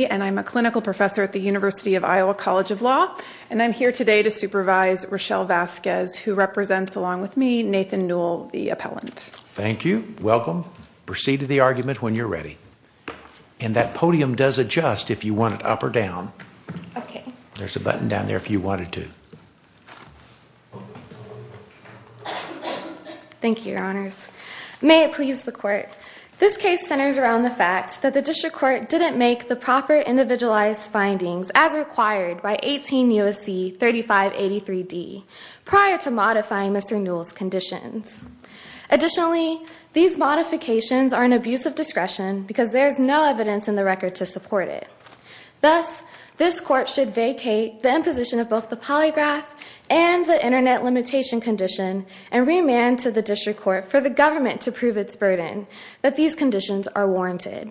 I'm a clinical professor at the University of Iowa College of Law, and I'm here today to supervise Rochelle Vasquez, who represents, along with me, Nathan Newell, the appellant. Thank you. Welcome. Proceed to the argument when you're ready. And that podium does adjust if you want it up or down. There's a button down there if you wanted to. Thank you, your honors. May it please the court, this case centers around the fact that the district court didn't make the proper individualized findings as required by 18 U.S.C. 3583D prior to modifying Mr. Newell's conditions. Additionally, these modifications are an abuse of discretion because there's no evidence in the record to support it. Thus, this court should vacate the imposition of both the polygraph and the internet limitation condition and remand to the district court for the government to prove its burden that these conditions are warranted.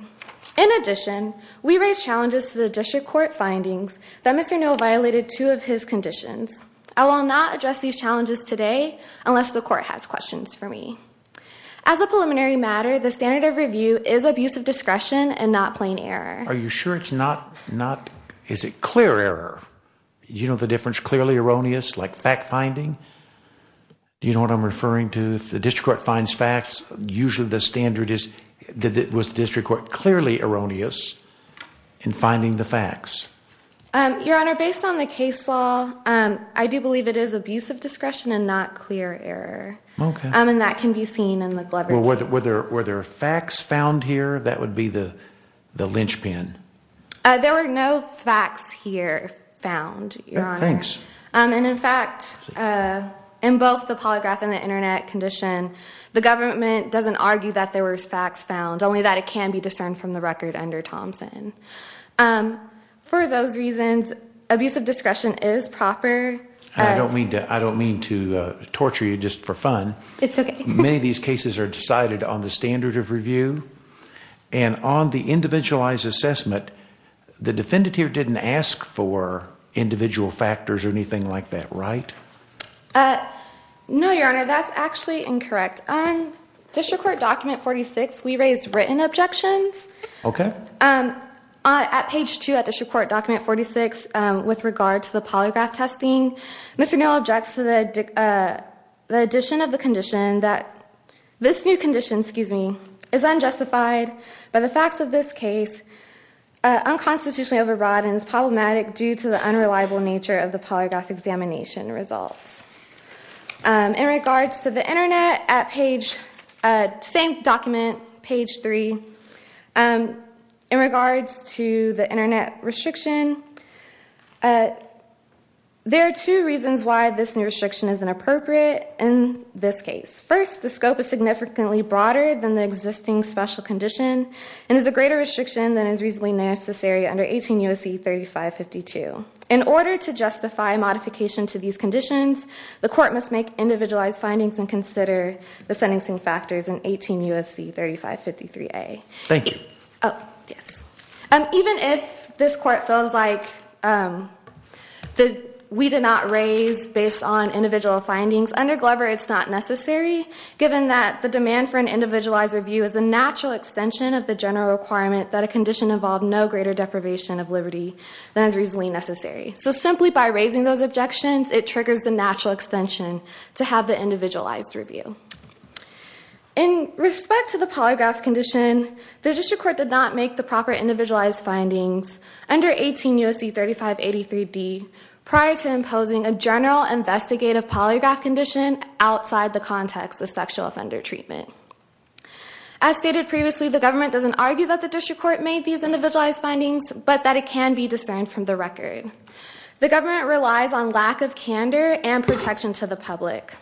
In addition, we raise challenges to the district court findings that Mr. Newell violated two of his conditions. I will not address these challenges today unless the court has questions for me. As a preliminary matter, the standard of review is abuse of discretion and not plain error. Are you sure it's not, not, is it clear error? You know the difference, clearly erroneous, like fact finding? You know what I'm referring to? If the district court finds facts, usually the standard is, was the district court clearly erroneous in finding the facts? Your honor, based on the case law, I do believe it is abuse of discretion and not clear error. And that can be seen in the Glover case. Were there facts found here? That would be the linchpin. There were no facts here found, your honor. Thanks. And in fact, in both the polygraph and the internet condition, the government doesn't argue that there was facts found, only that it can be discerned from the record under Thompson. For those reasons, abuse of discretion is proper. I don't mean to, I don't mean to torture you just for fun. Many of these cases are decided on the standard of review. And on the individualized assessment, the defendant here didn't ask for individual factors or anything like that, right? No, your honor, that's actually incorrect. District court document 46, we raised written objections. Okay. At page two at the court document 46 with regard to the polygraph testing, Mr. No objects to the addition of the condition that this new condition, excuse me, is unjustified by the facts of this case. Unconstitutionally overbroadens problematic due to the unreliable nature of the polygraph examination results. In regards to the internet at page, same document, page three, in regards to the internet restriction, there are two reasons why this new restriction is inappropriate in this case. First, the scope is significantly broader than the existing special condition and is a greater restriction than is reasonably necessary under 18 U.S.C. 3552. In order to justify modification to these conditions, the court must make individualized findings and consider the sentencing factors in 18 U.S.C. 3553A. Thank you. Oh, yes. Even if this court feels like we did not raise based on individual findings, under Glover it's not necessary given that the demand for an individualized review is a natural extension of the general requirement that a condition involve no greater deprivation of liberty than is reasonably necessary. So simply by raising those objections, it triggers the natural extension to have the individualized review. In respect to the polygraph condition, the district court did not make the proper individualized findings under 18 U.S.C. 3583D prior to imposing a general investigative polygraph condition outside the context of sexual offender treatment. As stated previously, the government doesn't argue that the district court made these individualized findings, but that it can be discerned from the record. The government relies on lack of candor and protection to the public.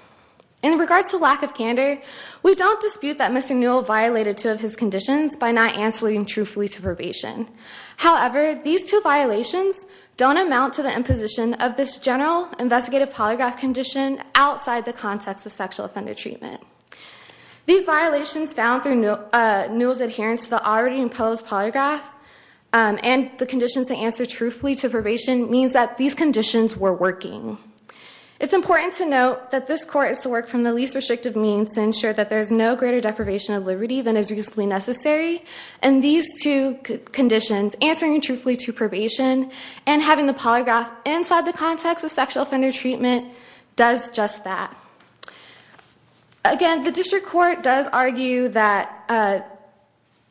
In regards to lack of candor, we don't dispute that Mr. Newell violated two of his conditions by not answering truthfully to probation. However, these two violations don't amount to the imposition of this general investigative polygraph condition outside the context of sexual offender treatment. These violations found through Newell's adherence to the already imposed polygraph and the conditions to answer truthfully to probation means that these conditions were working. It's important to note that this court is to work from the least restrictive means to ensure that there is no greater deprivation of liberty than is reasonably necessary. And these two conditions, answering truthfully to probation and having the polygraph inside the context of sexual offender treatment, does just that. Again, the district court does argue that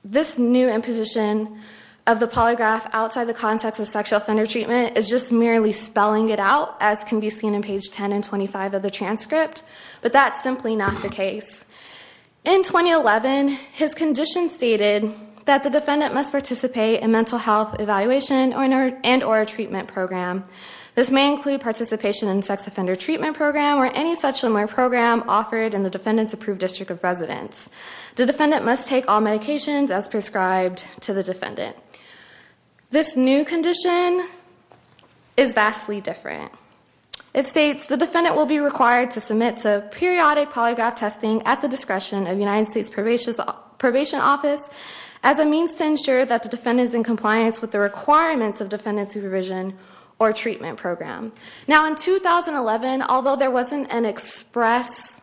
this new imposition of the polygraph outside the context of sexual offender treatment is just merely spelling it out, as can be seen in page 10 and 25 of the transcript. But that's simply not the case. In 2011, his condition stated that the defendant must participate in mental health evaluation and or a treatment program. This may include participation in a sex offender treatment program or any such similar program offered in the defendant's approved district of residence. The defendant must take all medications as prescribed to the defendant. This new condition is vastly different. It states, the defendant will be required to submit to periodic polygraph testing at the discretion of the United States Probation Office as a means to ensure that the defendant is in compliance with the requirements of defendant supervision or treatment program. Now, in 2011, although there wasn't an express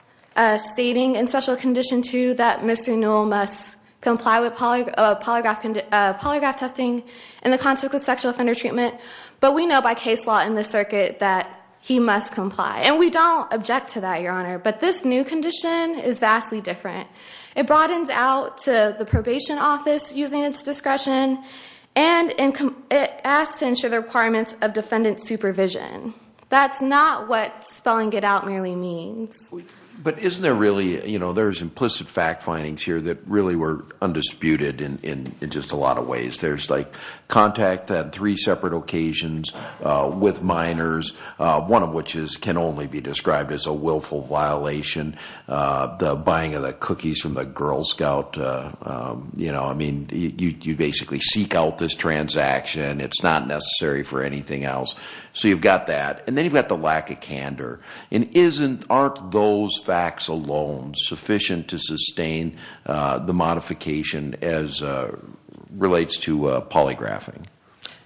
stating in special condition 2 that Mr. Newell must comply with polygraph testing in the context of sexual offender treatment, but we know by case law in this circuit that he must comply. And we don't object to that, Your Honor. But this new condition is vastly different. It broadens out to the probation office using its discretion and it asks to ensure the requirements of defendant supervision. That's not what spelling it out merely means. But isn't there really, you know, there's implicit fact findings here that really were undisputed in just a lot of ways. There's like contact on three separate occasions with minors, one of which can only be described as a willful violation. The buying of the cookies from the Girl Scout, you know, I mean, you basically seek out this transaction. It's not necessary for anything else. So you've got that. And then you've got the lack of candor. And aren't those facts alone sufficient to sustain the modification as relates to polygraphing?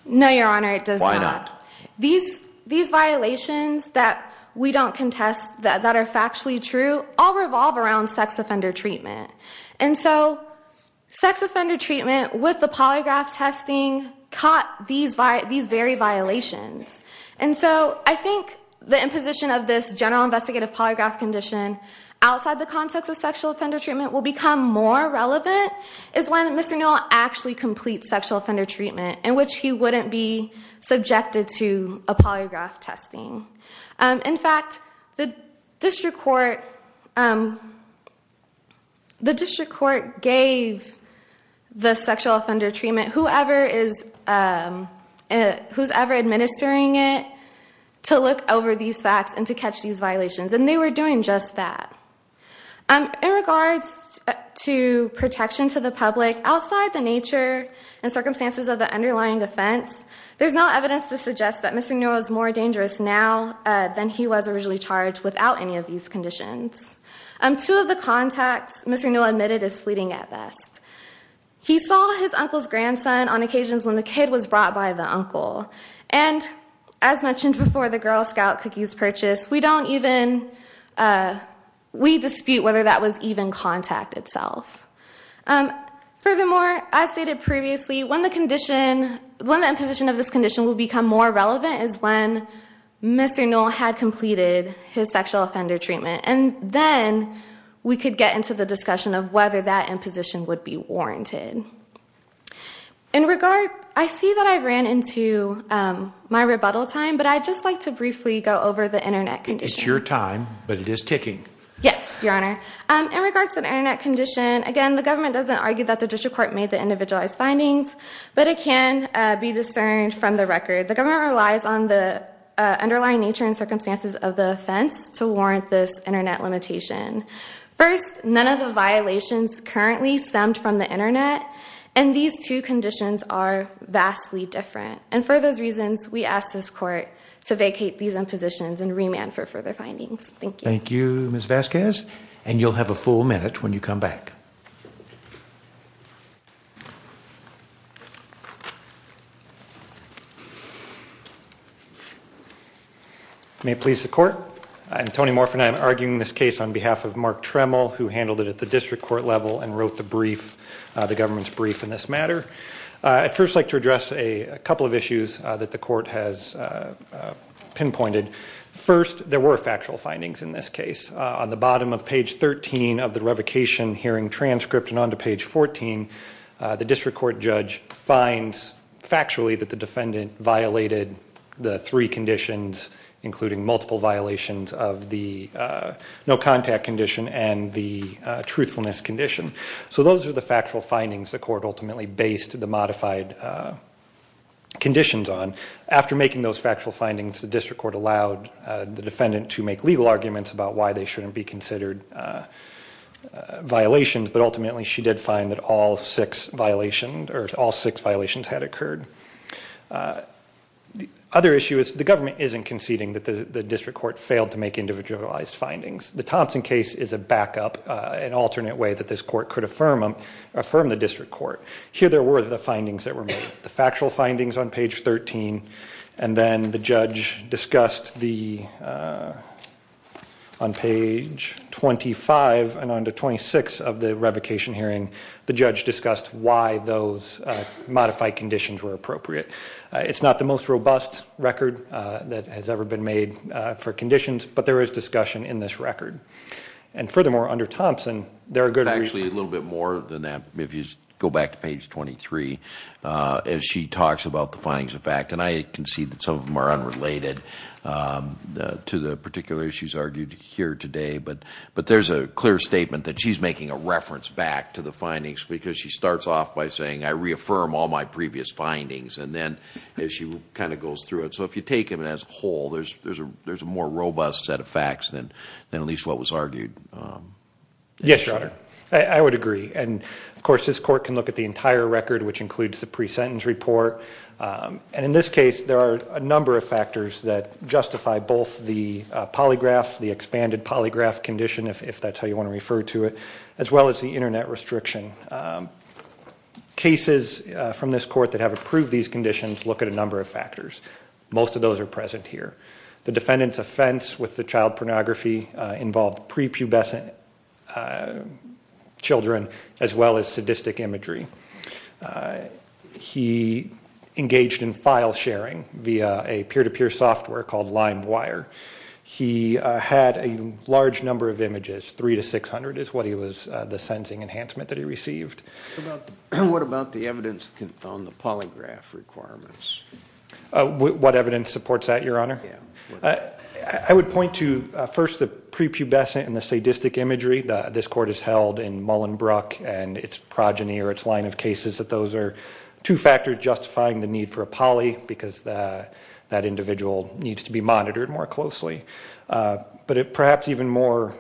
No, Your Honor, it does not. Why not? These violations that we don't contest that are factually true all revolve around sex offender treatment. And so sex offender treatment with the polygraph testing caught these very violations. And so I think the imposition of this general investigative polygraph condition outside the context of sexual offender treatment will become more relevant is when Mr. Newell actually completes sexual offender treatment in which he wouldn't be subjected to a polygraph testing. In fact, the district court gave the sexual offender treatment, whoever is ever administering it, to look over these facts and to catch these violations. And they were doing just that. In regards to protection to the public, outside the nature and circumstances of the underlying offense, there's no evidence to suggest that Mr. Newell is more dangerous now than he was originally charged without any of these conditions. Two of the contacts Mr. Newell admitted is fleeting at best. He saw his uncle's grandson on occasions when the kid was brought by the uncle. And as mentioned before, the Girl Scout cookies purchase, we dispute whether that was even contact itself. Furthermore, as stated previously, when the imposition of this condition will become more relevant is when Mr. Newell had completed his sexual offender treatment. And then we could get into the discussion of whether that imposition would be warranted. In regard, I see that I ran into my rebuttal time, but I'd just like to briefly go over the Internet condition. It's your time, but it is ticking. Yes, Your Honor. In regards to the Internet condition, again, the government doesn't argue that the district court made the individualized findings, but it can be discerned from the record. The government relies on the underlying nature and circumstances of the offense to warrant this Internet limitation. First, none of the violations currently stemmed from the Internet, and these two conditions are vastly different. And for those reasons, we ask this court to vacate these impositions and remand for further findings. Thank you. Thank you, Ms. Vasquez. And you'll have a full minute when you come back. May it please the court. I'm Tony Morphin. I'm arguing this case on behalf of Mark Tremel, who handled it at the district court level and wrote the government's brief in this matter. I'd first like to address a couple of issues that the court has pinpointed. First, there were factual findings in this case. On the bottom of page 13 of the revocation hearing transcript and onto page 14, the district court judge finds factually that the defendant violated the three conditions, including multiple violations of the no-contact condition and the truthfulness condition. So those are the factual findings the court ultimately based the modified conditions on. After making those factual findings, the district court allowed the defendant to make legal arguments about why they shouldn't be considered violations, but ultimately she did find that all six violations had occurred. The other issue is the government isn't conceding that the district court failed to make individualized findings. The Thompson case is a backup, an alternate way that this court could affirm the district court. Here there were the findings that were made, the factual findings on page 13, and then the judge discussed the, on page 25 and onto 26 of the revocation hearing, the judge discussed why those modified conditions were appropriate. It's not the most robust record that has ever been made for conditions, but there is discussion in this record. And furthermore, under Thompson, there are good reasons. Actually, a little bit more than that, if you go back to page 23, as she talks about the findings of fact, and I can see that some of them are unrelated to the particular issues argued here today, but there's a clear statement that she's making a reference back to the findings because she starts off by saying, I reaffirm all my previous findings, and then she kind of goes through it. So if you take it as a whole, there's a more robust set of facts than at least what was argued. Yes, Your Honor, I would agree. And, of course, this court can look at the entire record, which includes the pre-sentence report. And in this case, there are a number of factors that justify both the polygraph, the expanded polygraph condition, if that's how you want to refer to it, as well as the Internet restriction. Cases from this court that have approved these conditions look at a number of factors. Most of those are present here. The defendant's offense with the child pornography involved prepubescent children as well as sadistic imagery. He engaged in file sharing via a peer-to-peer software called LimeWire. He had a large number of images. Three to 600 is what he was the sentencing enhancement that he received. What about the evidence on the polygraph requirements? What evidence supports that, Your Honor? I would point to, first, the prepubescent and the sadistic imagery. This court has held in Mullenbrook and its progeny or its line of cases that those are two factors justifying the need for a poly because that individual needs to be monitored more closely. But perhaps even more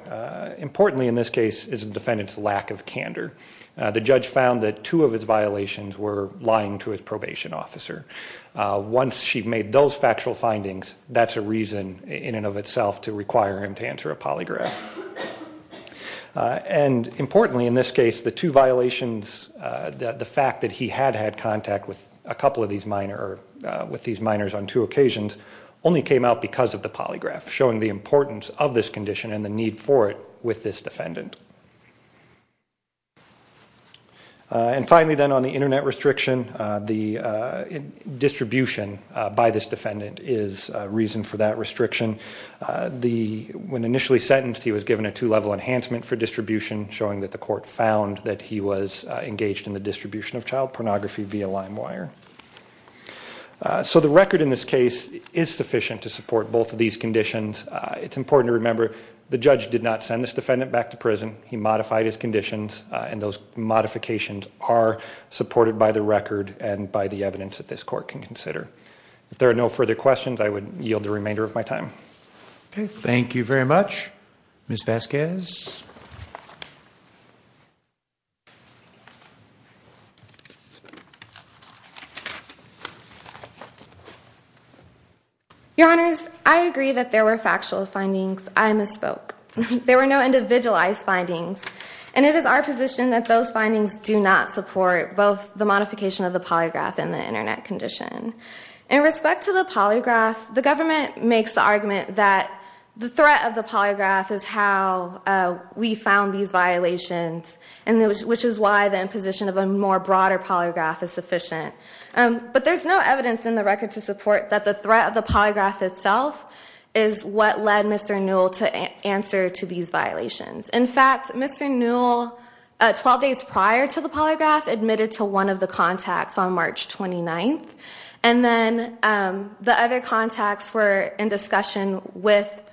importantly in this case is the defendant's lack of candor. The judge found that two of his violations were lying to his probation officer. Once she made those factual findings, that's a reason in and of itself to require him to answer a polygraph. And importantly in this case, the two violations, the fact that he had had contact with a couple of these minors on two occasions, only came out because of the polygraph, showing the importance of this condition and the need for it with this defendant. And finally then on the Internet restriction, the distribution by this defendant is a reason for that restriction. When initially sentenced, he was given a two-level enhancement for distribution, showing that the court found that he was engaged in the distribution of child pornography via limewire. So the record in this case is sufficient to support both of these conditions. It's important to remember the judge did not send this defendant back to prison. He modified his conditions, and those modifications are supported by the record and by the evidence that this court can consider. If there are no further questions, I would yield the remainder of my time. Okay, thank you very much. Ms. Vasquez? Your Honors, I agree that there were factual findings. I misspoke. There were no individualized findings. And it is our position that those findings do not support both the modification of the polygraph and the Internet condition. In respect to the polygraph, the government makes the argument that the threat of the polygraph is how we found these violations, which is why the imposition of a more broader polygraph is sufficient. But there's no evidence in the record to support that the threat of the polygraph itself is what led Mr. Newell to answer to these violations. In fact, Mr. Newell, 12 days prior to the polygraph, admitted to one of the contacts on March 29th. And then the other contacts were in discussion with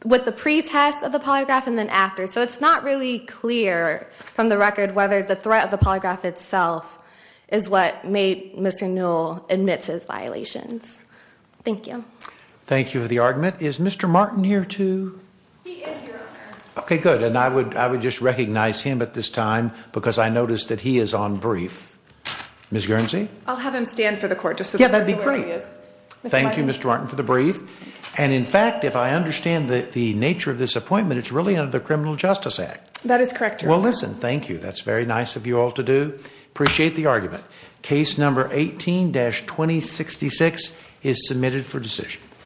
the pretest of the polygraph and then after. So it's not really clear from the record whether the threat of the polygraph itself is what made Mr. Newell admit to these violations. Thank you. Thank you for the argument. Is Mr. Martin here, too? He is, Your Honor. Okay, good. And I would just recognize him at this time because I noticed that he is on brief. Ms. Guernsey? I'll have him stand for the court. Yeah, that'd be great. Thank you, Mr. Martin, for the brief. And in fact, if I understand the nature of this appointment, it's really under the Criminal Justice Act. That is correct, Your Honor. Well, listen, thank you. That's very nice of you all to do. Appreciate the argument. Case number 18-2066 is submitted for decision.